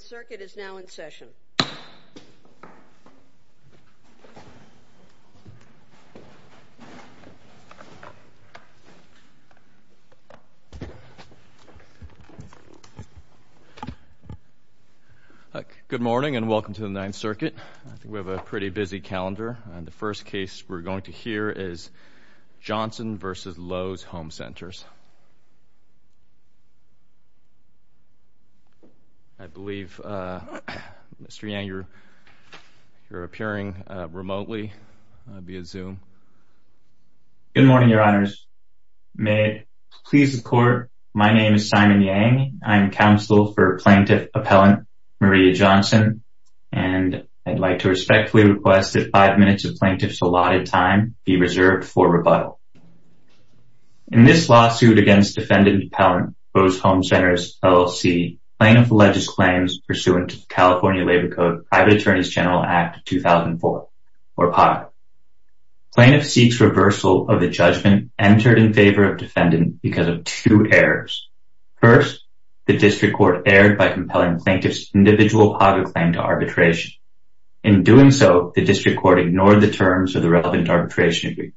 circuit is now in session. Good morning and welcome to the Ninth Circuit. We have a pretty busy calendar and the first case we're going to hear is Johnson v. Lowe's Home Centers. I believe Mr. Yang, you're appearing remotely via Zoom. Good morning, your honors. May it please the court, my name is Simon Yang. I'm counsel for plaintiff appellant Maria Johnson and I'd like to respectfully request that five minutes of plaintiff's allotted time be reserved for rebuttal. In this lawsuit against defendant appellant Lowe's Home Centers, LLC, plaintiff alleges claims pursuant to California Labor Code Private Attorney's General Act 2004 or PAGA. Plaintiff seeks reversal of the judgment entered in favor of defendant because of two errors. First, the district court erred by compelling plaintiff's individual PAGA claim to arbitration. In doing so, the district court ignored the terms of the relevant arbitration agreement.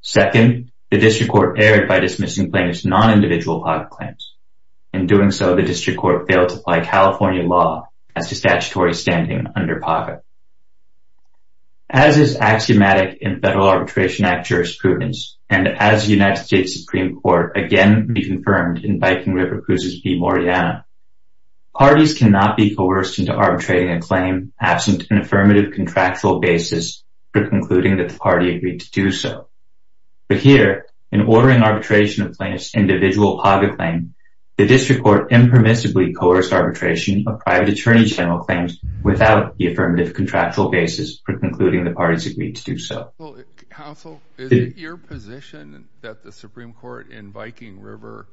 Second, the district court erred by dismissing plaintiff's non-individual PAGA claims. In doing so, the district court failed to apply California law as to statutory standing under PAGA. As is axiomatic in Federal Arbitration Act jurisprudence and as the United States Supreme Court again reconfirmed in Viking River Cruises v. Moriana, parties cannot be coerced into arbitrating a claim absent an affirmative contractual basis for concluding that the party agreed to do so. But here, in ordering arbitration of plaintiff's individual PAGA claim, the district court impermissibly coerced arbitration of private attorney general claims without the affirmative contractual basis for concluding the party's agreed to do so. Counsel, is it your position that the Supreme Court in Viking River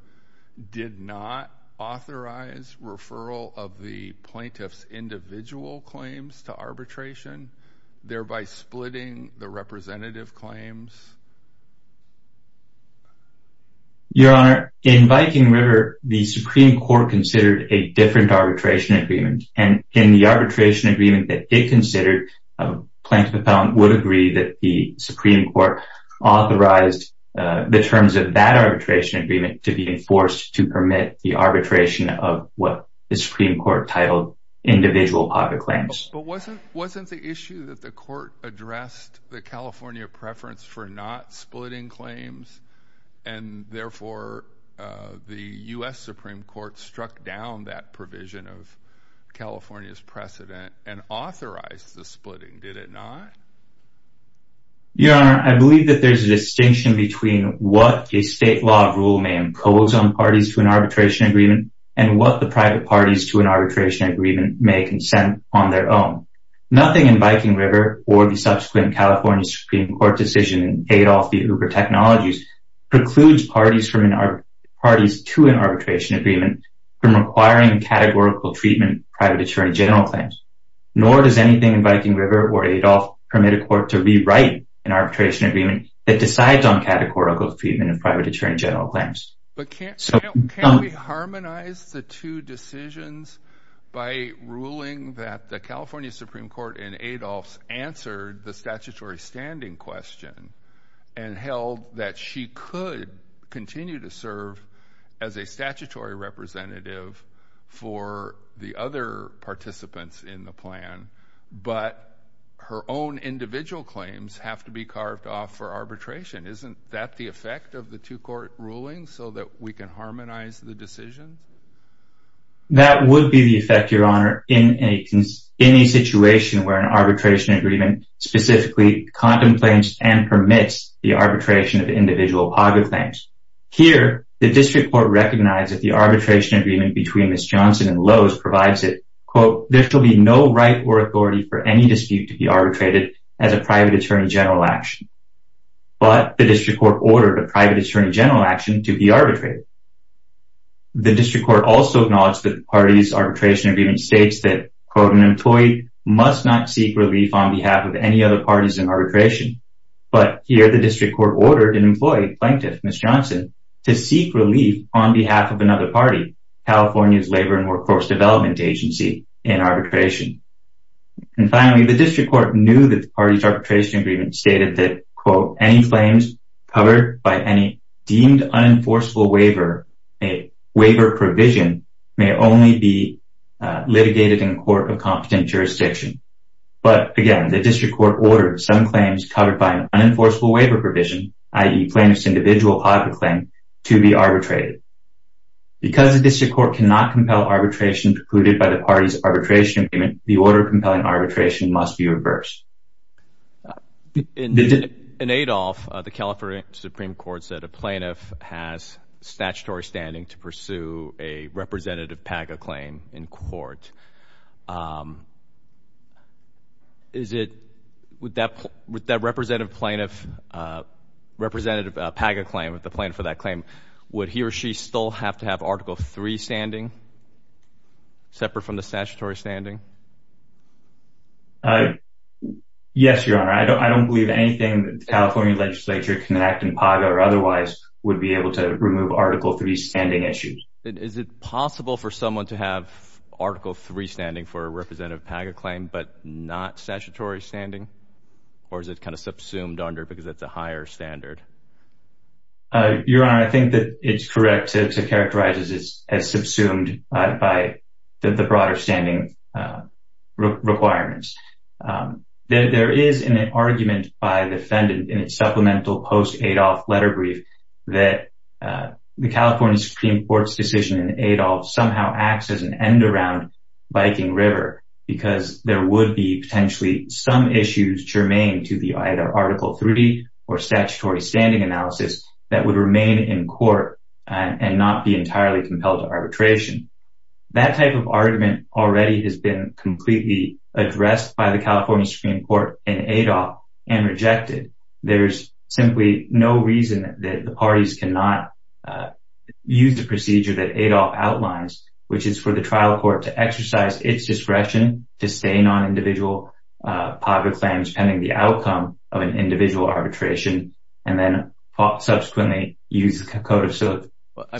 did not authorize referral of the plaintiff's individual claims to arbitration, thereby splitting the representative claims? Your Honor, in Viking River, the Supreme Court considered a different arbitration agreement. And in the arbitration agreement that it considered, a plaintiff appellant would agree that the Supreme Court authorized the terms of that arbitration agreement to be enforced to permit the arbitration of what the Supreme Court titled individual PAGA claims. But wasn't the issue that the court addressed the California preference for not splitting claims and therefore the U.S. Supreme Court struck down that provision of California's precedent and authorized the splitting, did it not? Your Honor, I believe that there's a distinction between what a state law rule may impose on an arbitration agreement and what the private parties to an arbitration agreement may consent on their own. Nothing in Viking River or the subsequent California Supreme Court decision in Adolf v. Uber Technologies precludes parties to an arbitration agreement from requiring categorical treatment of private attorney general claims, nor does anything in Viking River or Adolf permit a court to rewrite an arbitration agreement that decides on categorical treatment of private attorney general claims. But can't we harmonize the two decisions by ruling that the California Supreme Court in Adolf's answered the statutory standing question and held that she could continue to serve as a statutory representative for the other participants in the plan, but her own individual claims have to be carved off for arbitration? Isn't that the effect of the two-court ruling so that we can harmonize the decision? That would be the effect, Your Honor, in any situation where an arbitration agreement specifically contemplates and permits the arbitration of individual PAGA claims. Here, the district court recognized that the arbitration agreement between Ms. Johnson and Lowe's provides it, quote, there shall be no right or authority for any dispute to be arbitrated as a private attorney general action. But the district court ordered a private attorney general action to be arbitrated. The district court also acknowledged that the party's arbitration agreement states that, quote, an employee must not seek relief on behalf of any other parties in arbitration. But here, the district court ordered an employee plaintiff, Ms. Johnson, to seek relief on behalf of another party, California's Labor and Workforce Development Agency, in arbitration. And finally, the district court knew that the party's arbitration agreement stated that, quote, any claims covered by any deemed unenforceable waiver, a waiver provision, may only be litigated in a court of competent jurisdiction. But again, the district court ordered some claims covered by an unenforceable waiver provision, i.e. plaintiff's individual PAGA claim, to be arbitrated. Because the district court cannot compel arbitration precluded by the party's claim, the order of compelling arbitration must be reversed. In Adolph, the California Supreme Court said a plaintiff has statutory standing to pursue a representative PAGA claim in court. Is it, would that representative plaintiff, representative PAGA claim, the plaintiff for that claim, would he or she still have to have Article III standing, separate from the statutory standing? Yes, Your Honor. I don't believe anything that the California legislature can enact in PAGA or otherwise would be able to remove Article III standing issues. Is it possible for someone to have Article III standing for a representative PAGA claim, but not statutory standing? Or is it kind of subsumed under because it's a higher standard? Your Honor, I think that it's correct to characterize it as subsumed by the broader standing requirements. There is an argument by the defendant in its supplemental post-Adolph letter brief that the California Supreme Court's decision in Adolph somehow acts as an end around Viking River because there would be potentially some issues germane to the either Article III or statutory standing analysis that would remain in court and not be entirely compelled to arbitration. That type of argument already has been completely addressed by the California Supreme Court in Adolph and rejected. There's simply no reason that the parties cannot use the procedure that Adolph outlines, which is for the trial court to exercise its discretion to stay non-individual PAGA claims pending the outcome of an individual arbitration and then subsequently use a code of civility. I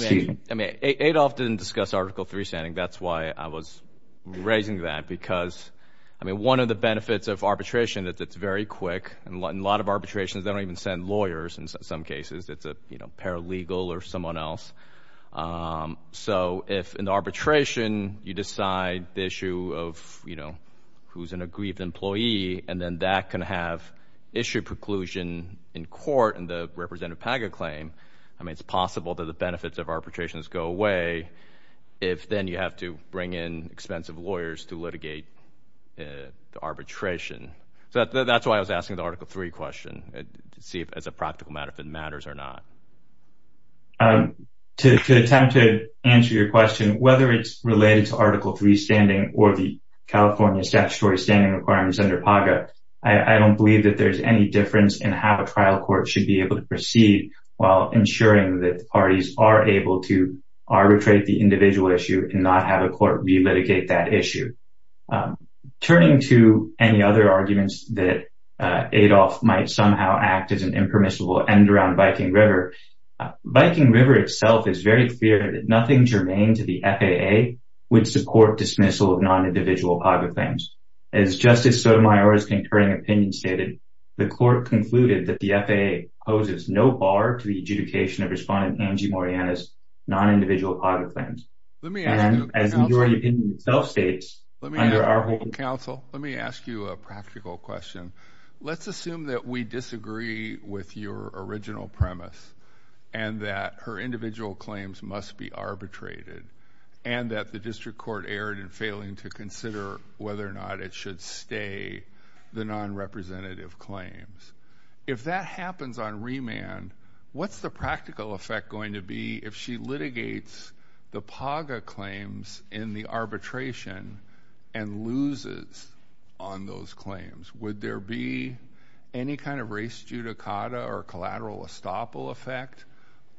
mean, Adolph didn't discuss Article III standing. That's why I was raising that because, I mean, one of the benefits of arbitration that it's very quick and a lot of arbitrations, they don't even send lawyers. In some cases, it's a paralegal or someone else. So if in arbitration, you decide the issue of, you know, who's an aggrieved employee and then that can have issue preclusion in court and the representative PAGA claim. I mean, it's possible that the benefits of arbitrations go away if then you have to bring in expensive lawyers to litigate the arbitration. So that's why I was asking the Article III question to see if it's a practical matter, if it matters or not. To attempt to answer your question, whether it's related to Article III standing or the California statutory standing requirements under PAGA, I don't believe that there's any difference in how a trial court should be able to proceed while ensuring that the parties are able to arbitrate the individual issue and not have a court relitigate that issue. Turning to any other arguments that Adolph might somehow act as an impermissible end around Viking River, Viking River itself is very clear that nothing germane to the FAA would support dismissal of non-individual PAGA claims. As Justice Sotomayor's concurring opinion stated, the court concluded that the FAA poses no bar to the adjudication of Respondent Angie Moriana's non-individual PAGA claims. Let me ask you a practical question. Let's assume that we disagree with your original premise and that her individual claims must be arbitrated and that the district court erred in failing to consider whether or not it should stay the non-representative claims. If that happens on remand, what's the practical effect going to be if she litigates the PAGA claims in the arbitration and loses on those claims? Would there be any kind of res judicata or collateral estoppel effect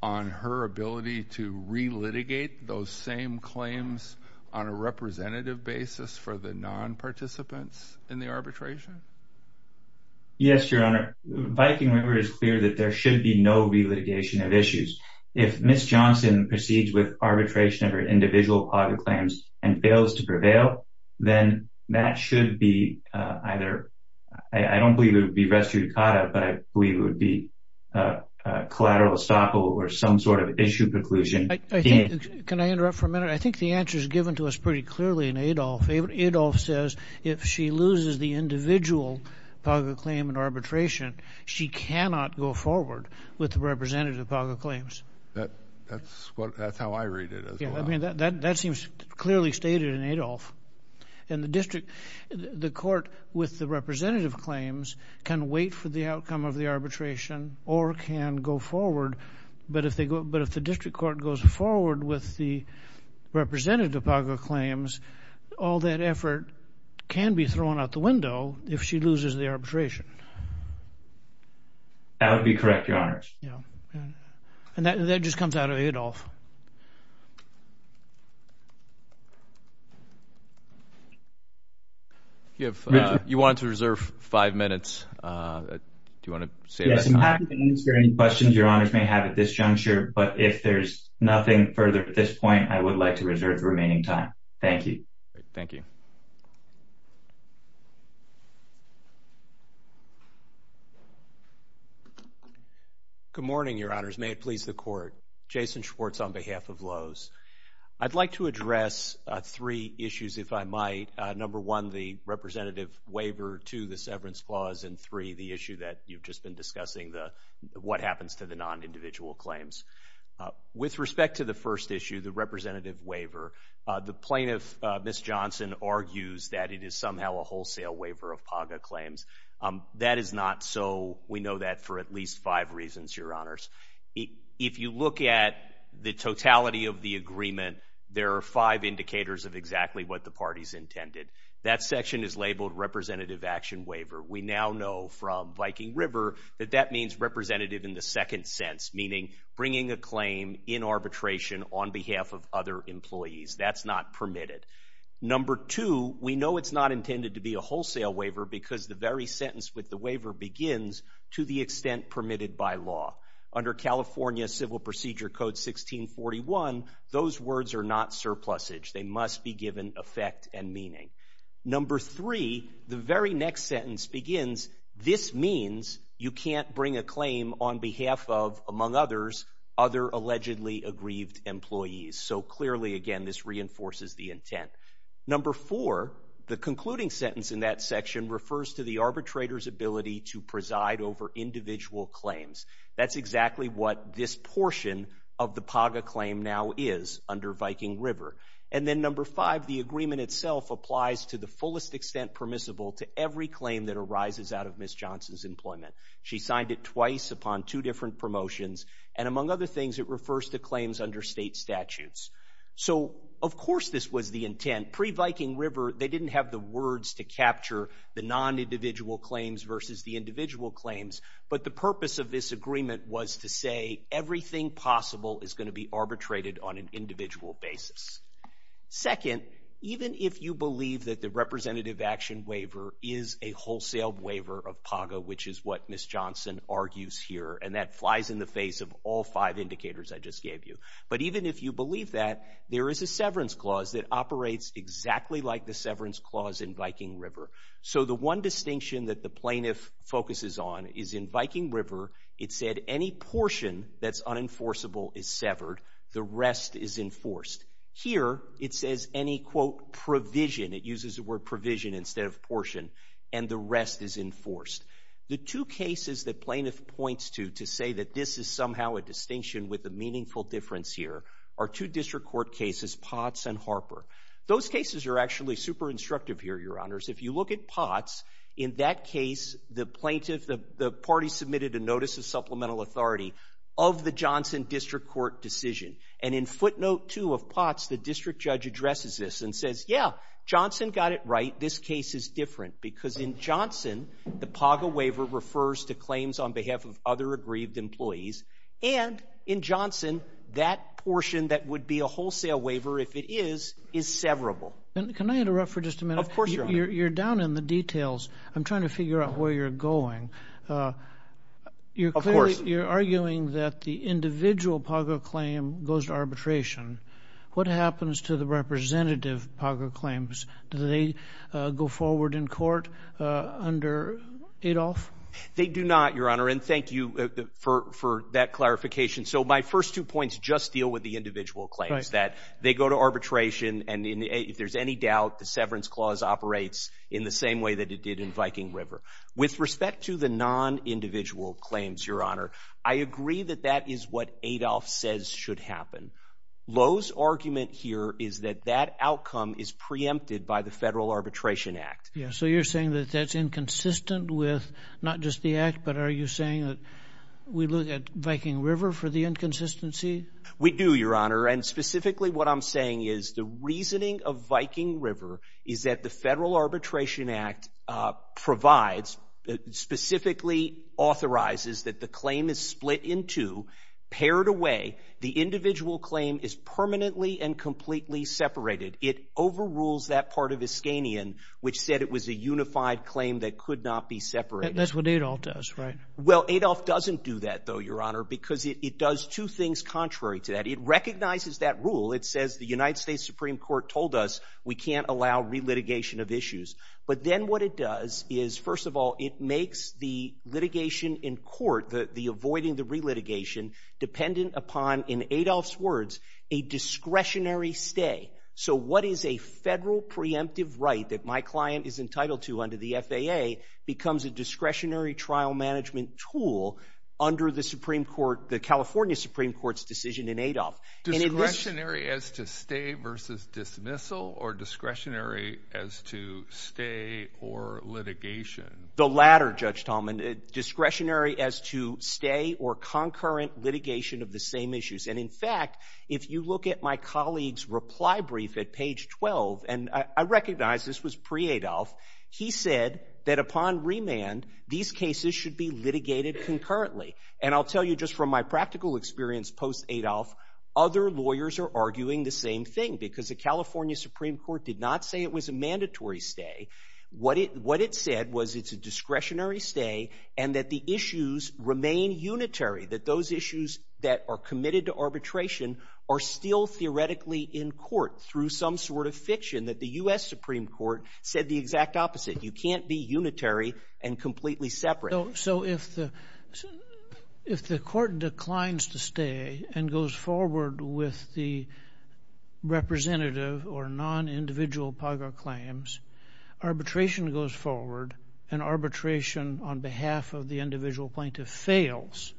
on her ability to re-litigate those same claims on a representative basis for the non-participants in the arbitration? Yes, Your Honor, Viking River is clear that there should be no re-litigation of issues. If Ms. Johnson proceeds with arbitration of her individual PAGA claims and fails to prevail, then that should be either, I don't believe it would be res judicata, but I believe it would be a collateral estoppel or some sort of issue preclusion. Can I interrupt for a minute? I think the answer is given to us pretty clearly in Adolf. Adolf says if she loses the individual PAGA claim in arbitration, she cannot go forward with the representative PAGA claims. That's how I read it. I mean, that seems clearly stated in Adolf. In the district, the court with the representative claims can wait for the outcome of the arbitration, but if the district court goes forward with the representative PAGA claims, all that effort can be thrown out the window if she loses the arbitration. That would be correct, Your Honors. Yeah. And that just comes out of Adolf. If you want to reserve five minutes, do you want to say that? I'm happy to answer any questions Your Honors may have at this juncture, but if there's nothing further at this point, I would like to reserve the remaining time. Thank you. Thank you. Good morning, Your Honors. May it please the court. Jason Schwartz on behalf of Lowe's. I'd like to address three issues, if I might. Number one, the representative waiver. Two, the severance clause. And three, the issue that you've just been discussing, what happens to the non-individual claims. With respect to the first issue, the representative waiver, the plaintiff, Ms. Johnson, argues that it is somehow a wholesale waiver of PAGA claims. That is not so. We know that for at least five reasons, Your Honors. If you look at the totality of the agreement, there are five indicators of exactly what the party's intended. That section is labeled representative action waiver. We now know from Viking River that that means representative in the second sense, meaning bringing a claim in arbitration on behalf of other employees. That's not permitted. Number two, we know it's not intended to be a wholesale waiver because the very sentence with the waiver begins, to the extent permitted by law. Under California Civil Procedure Code 1641, those words are not surplusage. They must be given effect and meaning. Number three, the very next sentence begins, this means you can't bring a claim on behalf of, among others, other allegedly aggrieved employees. So clearly, again, this reinforces the intent. Number four, the concluding sentence in that section refers to the arbitrator's ability to preside over individual claims. That's exactly what this portion of the PAGA claim now is under Viking River. And then number five, the agreement itself applies to the fullest extent permissible to every claim that arises out of Ms. Johnson's employment. She signed it twice upon two different promotions. And among other things, it refers to claims under state statutes. So, of course, this was the intent. Pre-Viking River, they didn't have the words to capture the non-individual claims versus the individual claims. But the purpose of this agreement was to say everything possible is going to be arbitrated on an individual basis. Second, even if you believe that the representative action waiver is a wholesale waiver of PAGA, which is what Ms. Johnson argues here, and that flies in the face of all five indicators I just gave you. But even if you believe that, there is a severance clause that operates exactly like the severance clause in Viking River. So the one distinction that the plaintiff focuses on is in Viking River, it said any portion that's unenforceable is severed. The rest is enforced. Here, it says any, quote, provision. It uses the word provision instead of portion. And the rest is enforced. The two cases that plaintiff points to to say that this is somehow a distinction with a meaningful difference here are two district court cases, Potts and Harper. Those cases are actually super instructive here, Your Honors. If you look at Potts, in that case, the plaintiff, the party submitted a notice of supplemental authority of the Johnson District Court decision. And in footnote two of Potts, the district judge addresses this and says, yeah, Johnson got it right. This case is different because in Johnson, the PAGA waiver refers to claims on behalf of other aggrieved employees. And in Johnson, that portion that would be a wholesale waiver, if it is, is severable. And can I interrupt for just a minute? Of course, Your Honor. You're down in the details. I'm trying to figure out where you're going. You're arguing that the individual PAGA claim goes to arbitration. What happens to the representative PAGA claims? Do they go forward in court under Adolf? They do not, Your Honor. And thank you for that clarification. So my first two points just deal with the individual claims that they go to arbitration. And if there's any doubt, the severance clause operates in the same way that it did in the non-individual claims, Your Honor. I agree that that is what Adolf says should happen. Lowe's argument here is that that outcome is preempted by the Federal Arbitration Act. Yeah. So you're saying that that's inconsistent with not just the act, but are you saying that we look at Viking River for the inconsistency? We do, Your Honor. And specifically what I'm saying is the reasoning of Viking River is that the Federal Arbitration Act specifically authorizes that the claim is split in two, paired away. The individual claim is permanently and completely separated. It overrules that part of Iskanian, which said it was a unified claim that could not be separated. That's what Adolf does, right? Well, Adolf doesn't do that, though, Your Honor, because it does two things contrary to that. It recognizes that rule. It says the United States Supreme Court told us we can't allow relitigation of issues. But then what it does is, first of all, it makes the litigation in court, the avoiding the relitigation, dependent upon, in Adolf's words, a discretionary stay. So what is a federal preemptive right that my client is entitled to under the FAA becomes a discretionary trial management tool under the Supreme Court, the California Supreme Court's decision in Adolf. Discretionary as to stay versus dismissal or discretionary as to stay or litigation? The latter, Judge Tallman, discretionary as to stay or concurrent litigation of the same issues. And in fact, if you look at my colleague's reply brief at page 12, and I recognize this was pre-Adolf, he said that upon remand, these cases should be litigated other lawyers are arguing the same thing, because the California Supreme Court did not say it was a mandatory stay. What it what it said was it's a discretionary stay and that the issues remain unitary, that those issues that are committed to arbitration are still theoretically in court through some sort of fiction that the U.S. Supreme Court said the exact opposite. You can't be unitary and completely separate. So if the if the court declines to stay and goes forward with the representative or non-individual PAGA claims, arbitration goes forward and arbitration on behalf of the individual plaintiff fails.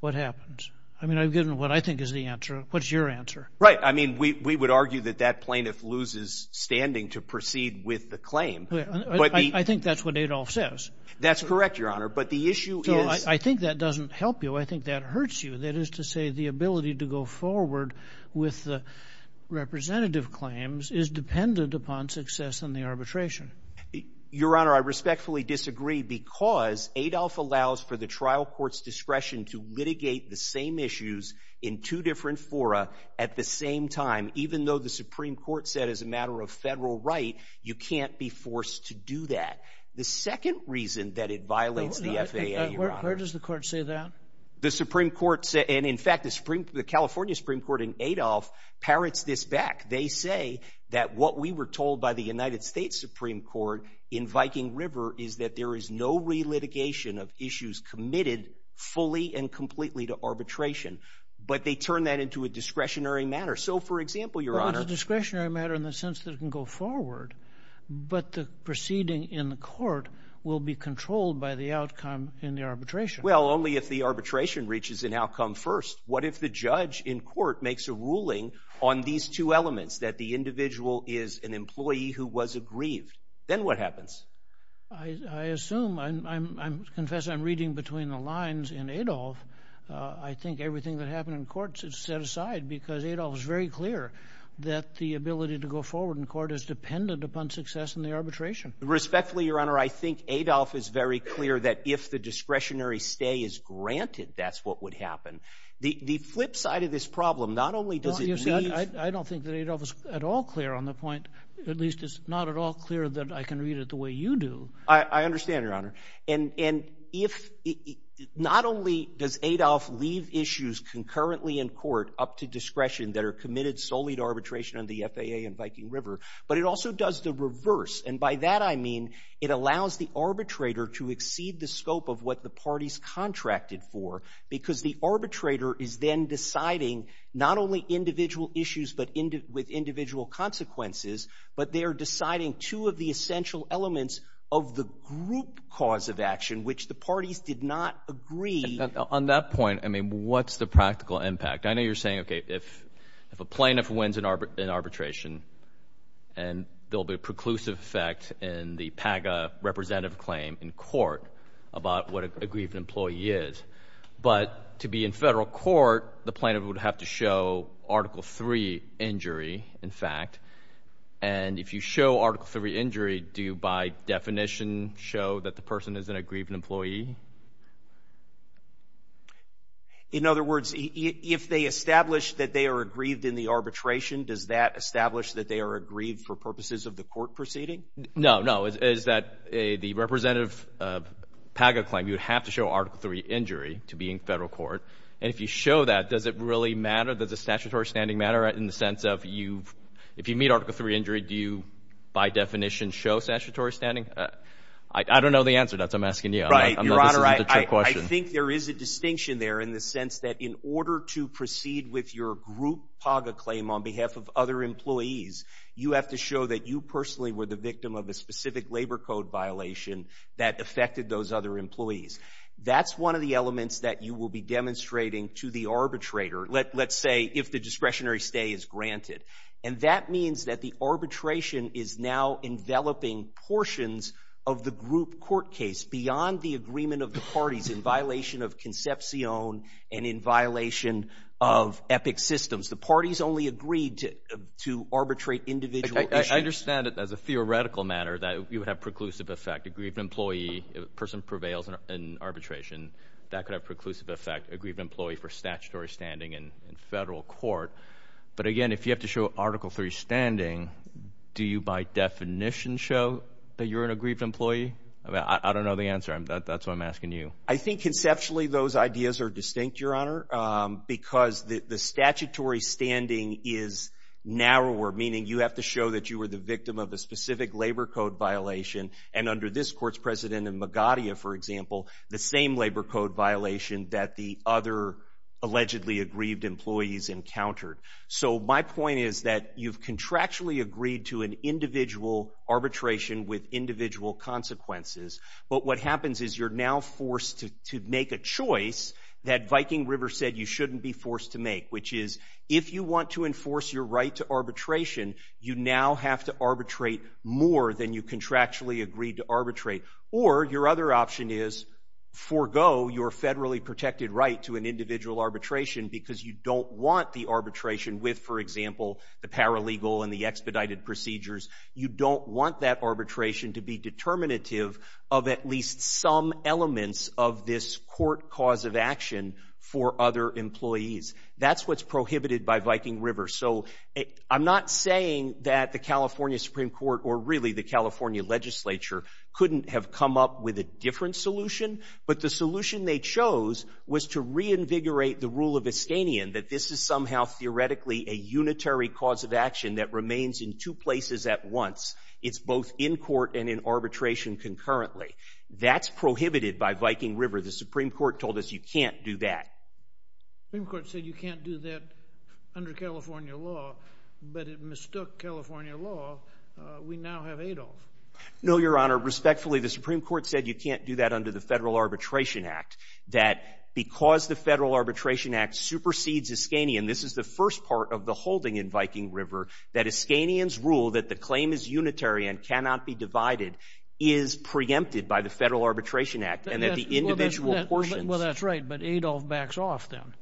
What happens? I mean, I've given what I think is the answer. What's your answer? Right. I mean, we would argue that that plaintiff loses standing to proceed with the claim. I think that's what Adolf says. That's correct, Your Honor. But the issue is I think that doesn't help you. I think that hurts you. That is to say, the ability to go forward with the representative claims is dependent upon success in the arbitration. Your Honor, I respectfully disagree because Adolf allows for the trial court's discretion to litigate the same issues in two different fora at the same time, even though the Supreme Court said as a matter of federal right, you can't be forced to do that. The second reason that it violates the FAA, where does the court say that the Supreme Court said? And in fact, the Supreme the California Supreme Court in Adolf parrots this back. They say that what we were told by the United States Supreme Court in Viking River is that there is no relitigation of issues committed fully and completely to arbitration. But they turn that into a discretionary matter. So, for example, Your Honor, discretionary matter in the sense that it can go forward. But the proceeding in the court will be controlled by the outcome in the arbitration. Well, only if the arbitration reaches an outcome first. What if the judge in court makes a ruling on these two elements, that the individual is an employee who was aggrieved? Then what happens? I assume I'm confess I'm reading between the lines in Adolf. I think everything that happened in court is set aside because Adolf is very clear that the ability to go forward in court is dependent upon success in the arbitration. Respectfully, Your Honor, I think Adolf is very clear that if the discretionary stay is granted, that's what would happen. The flip side of this problem, not only does it mean I don't think that Adolf is at all clear on the point, at least it's not at all clear that I can read it the way you do. I understand, Your Honor. And if not only does Adolf leave issues concurrently in court up to discretion that are committed solely to arbitration on the FAA and Viking River, but it also does the reverse. And by that, I mean it allows the arbitrator to exceed the scope of what the parties contracted for because the arbitrator is then deciding not only individual issues, but with individual consequences. But they are deciding two of the essential elements of the group cause of action, which the parties did not agree on that point. I mean, what's the practical impact? I know you're saying, OK, if if a plaintiff wins in arbitration and there'll be a preclusive effect in the PAGA representative claim in court about what a grievant employee is, but to be in federal court, the plaintiff would have to show Article 3 injury, in fact. And if you show Article 3 injury, do you by definition show that the person is an aggrieved employee? In other words, if they establish that they are aggrieved in the arbitration, does that establish that they are aggrieved for purposes of the court proceeding? No, no. Is that a the representative PAGA claim you would have to show Article 3 injury to be in federal court? And if you show that, does it really matter? Does a statutory standing matter in the sense of you? If you meet Article 3 injury, do you by definition show statutory standing? I don't know the answer to that. I'm asking you. Right. I'm not sure. I think there is a distinction there in the sense that in order to proceed with your group PAGA claim on behalf of other employees, you have to show that you personally were the victim of a specific labor code violation that affected those other employees. That's one of the elements that you will be demonstrating to the arbitrator. Let's say if the discretionary stay is granted. And that means that the arbitration is now enveloping portions of the group court case beyond the agreement of the parties in violation of conception and in violation of epic systems. The parties only agreed to to arbitrate individual. I understand it as a theoretical matter that you would have preclusive effect, aggrieved employee, a person prevails in arbitration that could have preclusive effect, aggrieved employee for statutory standing in federal court. But again, if you have to show Article 3 standing, do you by definition show that you're an aggrieved employee? I don't know the answer. And that's what I'm asking you. I think conceptually those ideas are distinct, Your Honor, because the statutory standing is narrower, meaning you have to show that you were the victim of a specific labor code violation. And under this court's precedent in Magadha, for example, the same labor code violation that the other allegedly aggrieved employees encountered. So my point is that you've contractually agreed to an individual arbitration with individual consequences. But what happens is you're now forced to make a choice that Viking River said you shouldn't be forced to make, which is if you want to enforce your right to arbitration, you now have to arbitrate more than you contractually agreed to arbitrate. Or your other option is forgo your federally protected right to an individual arbitration because you don't want the arbitration with, for example, the paralegal and the expedited procedures. You don't want that arbitration to be determinative of at least some elements of this court cause of action for other employees. That's what's prohibited by Viking River. So I'm not saying that the California Supreme Court or really the California legislature couldn't have come up with a different solution. But the solution they chose was to reinvigorate the rule of Estanian that this is somehow theoretically a unitary cause of action that remains in two places at once. It's both in court and in arbitration concurrently. That's prohibited by Viking River. The Supreme Court told us you can't do that. The Supreme Court said you can't do that under California law, but it mistook California law. We now have Adolf. No, Your Honor, respectfully, the Supreme Court said you can't do that under the Federal Arbitration Act, that because the Federal Arbitration Act supersedes Estanian, this is the first part of the holding in Viking River that Estanian's rule that the claim is unitary and cannot be divided is preempted by the Federal Arbitration Act and that the individual portion. Well, that's right. But Adolf backs off then.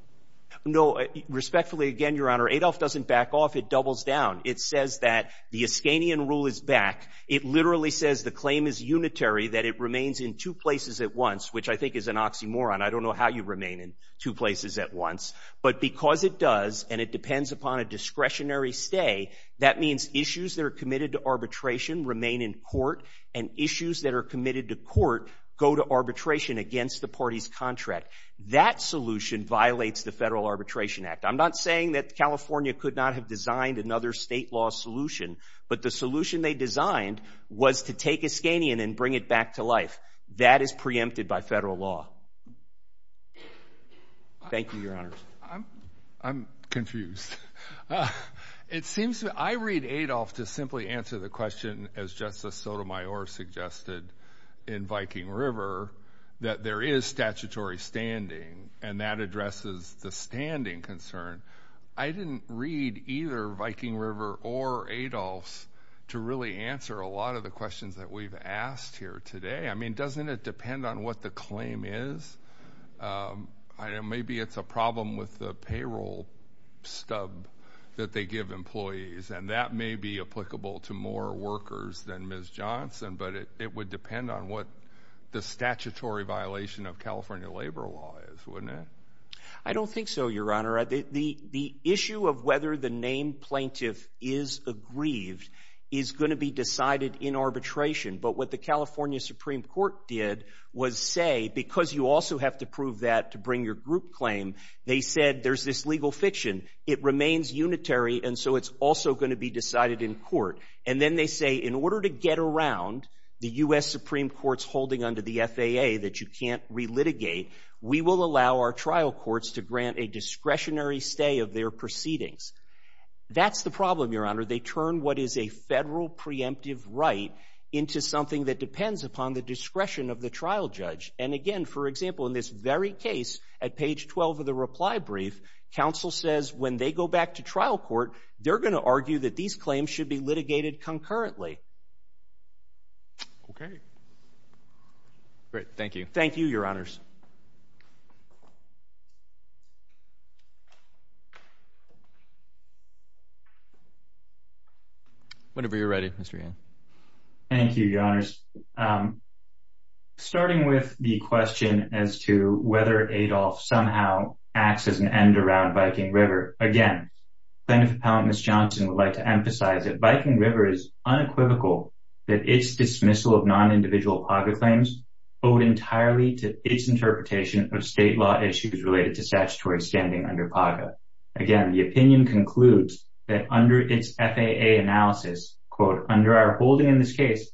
No, respectfully, again, Your Honor, Adolf doesn't back off. It doubles down. It says that the Estanian rule is back. It literally says the claim is unitary, that it remains in two places at once, which I think is an oxymoron. I don't know how you remain in two places at once, but because it does and it says that issues that are committed to arbitration remain in court and issues that are committed to court go to arbitration against the party's contract. That solution violates the Federal Arbitration Act. I'm not saying that California could not have designed another state law solution, but the solution they designed was to take Estanian and bring it back to life. That is preempted by federal law. Thank you, Your Honor. I'm confused. It seems to me, I read Adolf to simply answer the question, as Justice Sotomayor suggested in Viking River, that there is statutory standing and that addresses the standing concern. I didn't read either Viking River or Adolf's to really answer a lot of the questions that we've asked here today. I mean, doesn't it depend on what the claim is? I know maybe it's a problem with the payroll stub that they give employees, and that may be applicable to more workers than Ms. Johnson, but it would depend on what the statutory violation of California labor law is, wouldn't it? I don't think so, Your Honor. The issue of whether the named plaintiff is aggrieved is going to be decided in court. And then they say, in order to get around the U.S. Supreme Court's holding under the FAA that you can't relitigate, we will allow our trial courts to grant a discretionary stay of their proceedings. That's the problem, Your Honor. They turn what is a federal preemptive right into something that depends upon the discretion of the trial judge. In this very case, at page 12 of the reply brief, counsel says when they go back to trial court, they're going to argue that these claims should be litigated concurrently. OK. Great, thank you. Thank you, Your Honors. Whenever you're ready, Mr. Thank you, Your Honors. Starting with the question as to whether Adolf somehow acts as an end around Viking River, again, Plaintiff Appellant Ms. Johnson would like to emphasize that Viking River is unequivocal that its dismissal of non-individual PAGA claims owed entirely to its interpretation of state law issues related to statutory standing under PAGA. Again, the opinion concludes that under its FAA analysis, quote, under our holding in this case,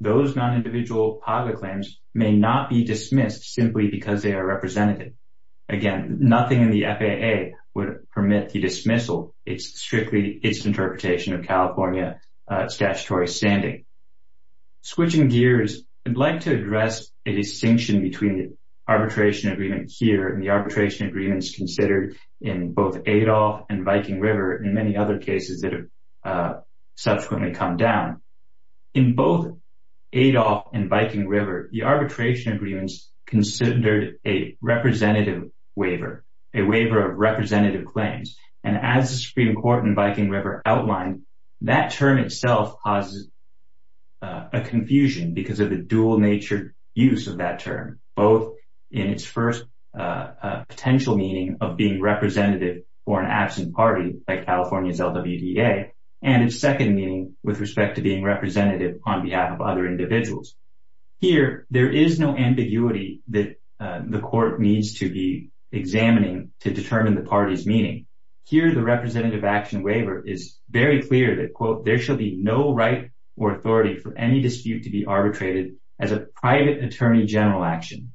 those non-individual PAGA claims may not be dismissed simply because they are representative. Again, nothing in the FAA would permit the dismissal. It's strictly its interpretation of California statutory standing. Switching gears, I'd like to address a distinction between the arbitration agreement here and the arbitration agreements considered in both Adolf and Viking River and many other cases that have subsequently come down. In both Adolf and Viking River, the arbitration agreements considered a representative waiver, a waiver of representative claims. And as the Supreme Court in Viking River outlined, that term itself causes a confusion because of the dual nature use of that term, both in its first potential meaning of being representative for an absent party, like California's LWDA, and its second meaning with respect to being representative on behalf of other individuals. Here, there is no ambiguity that the court needs to be examining to determine the party's meaning. Here, the representative action waiver is very clear that, quote, there shall be no right or authority for any dispute to be arbitrated as a private attorney general action.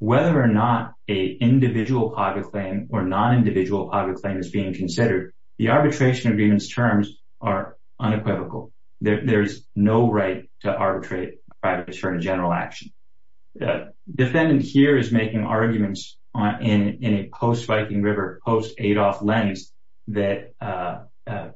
Whether or not a individual public claim or non-individual public claim is being considered, the arbitration agreements terms are unequivocal. There is no right to arbitrate private attorney general action. Defendant here is making arguments in a post-Viking River, post-Adolf lens that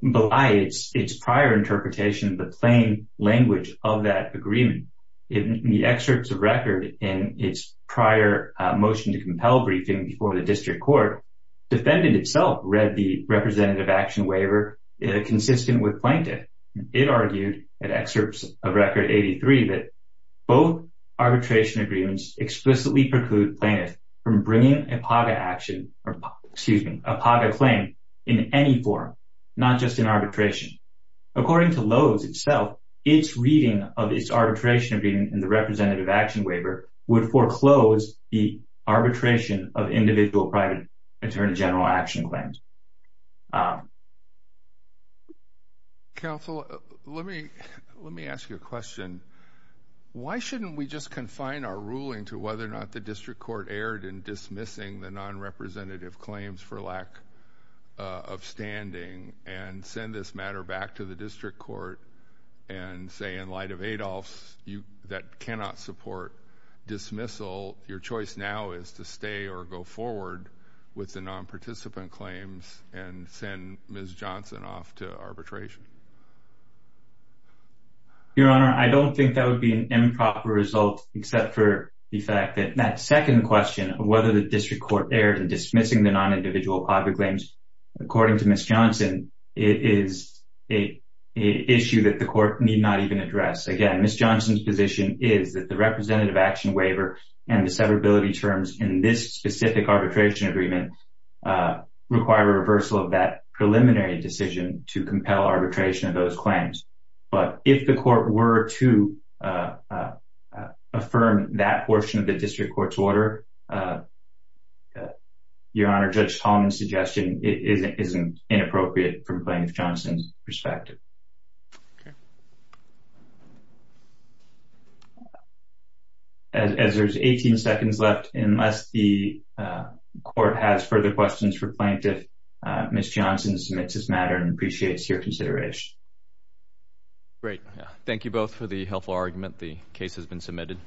belies its prior interpretation of the plain language of that agreement. In the excerpts of record in its prior motion to compel briefing before the district court, defendant itself read the representative action waiver consistent with plaintiff. It argued, in excerpts of record 83, that both arbitration agreements explicitly preclude plaintiff from bringing a PAGA action or excuse me, a PAGA claim in any form. Not just in arbitration. According to Lowe's itself, its reading of its arbitration agreement in the representative action waiver would foreclose the arbitration of individual private attorney general action claims. Counsel, let me let me ask you a question. Why shouldn't we just confine our ruling to whether or not the district court erred in dismissal and send this matter back to the district court and say, in light of Adolf's, that cannot support dismissal, your choice now is to stay or go forward with the non participant claims and send Ms. Johnson off to arbitration. Your Honor, I don't think that would be an improper result, except for the fact that that second question of whether the district court erred in dismissing the non-individual private claims. According to Ms. Johnson, it is a issue that the court need not even address. Again, Ms. Johnson's position is that the representative action waiver and the severability terms in this specific arbitration agreement require a reversal of that preliminary decision to compel arbitration of those claims. But if the court were to affirm that portion of the district court's order, Your Honor, Judge Tolman's suggestion is inappropriate from Plaintiff Johnson's perspective. As there's 18 seconds left, unless the court has further questions for Plaintiff, Ms. Johnson submits this matter and appreciates your consideration. Great. Thank you both for the helpful argument. The case has been submitted.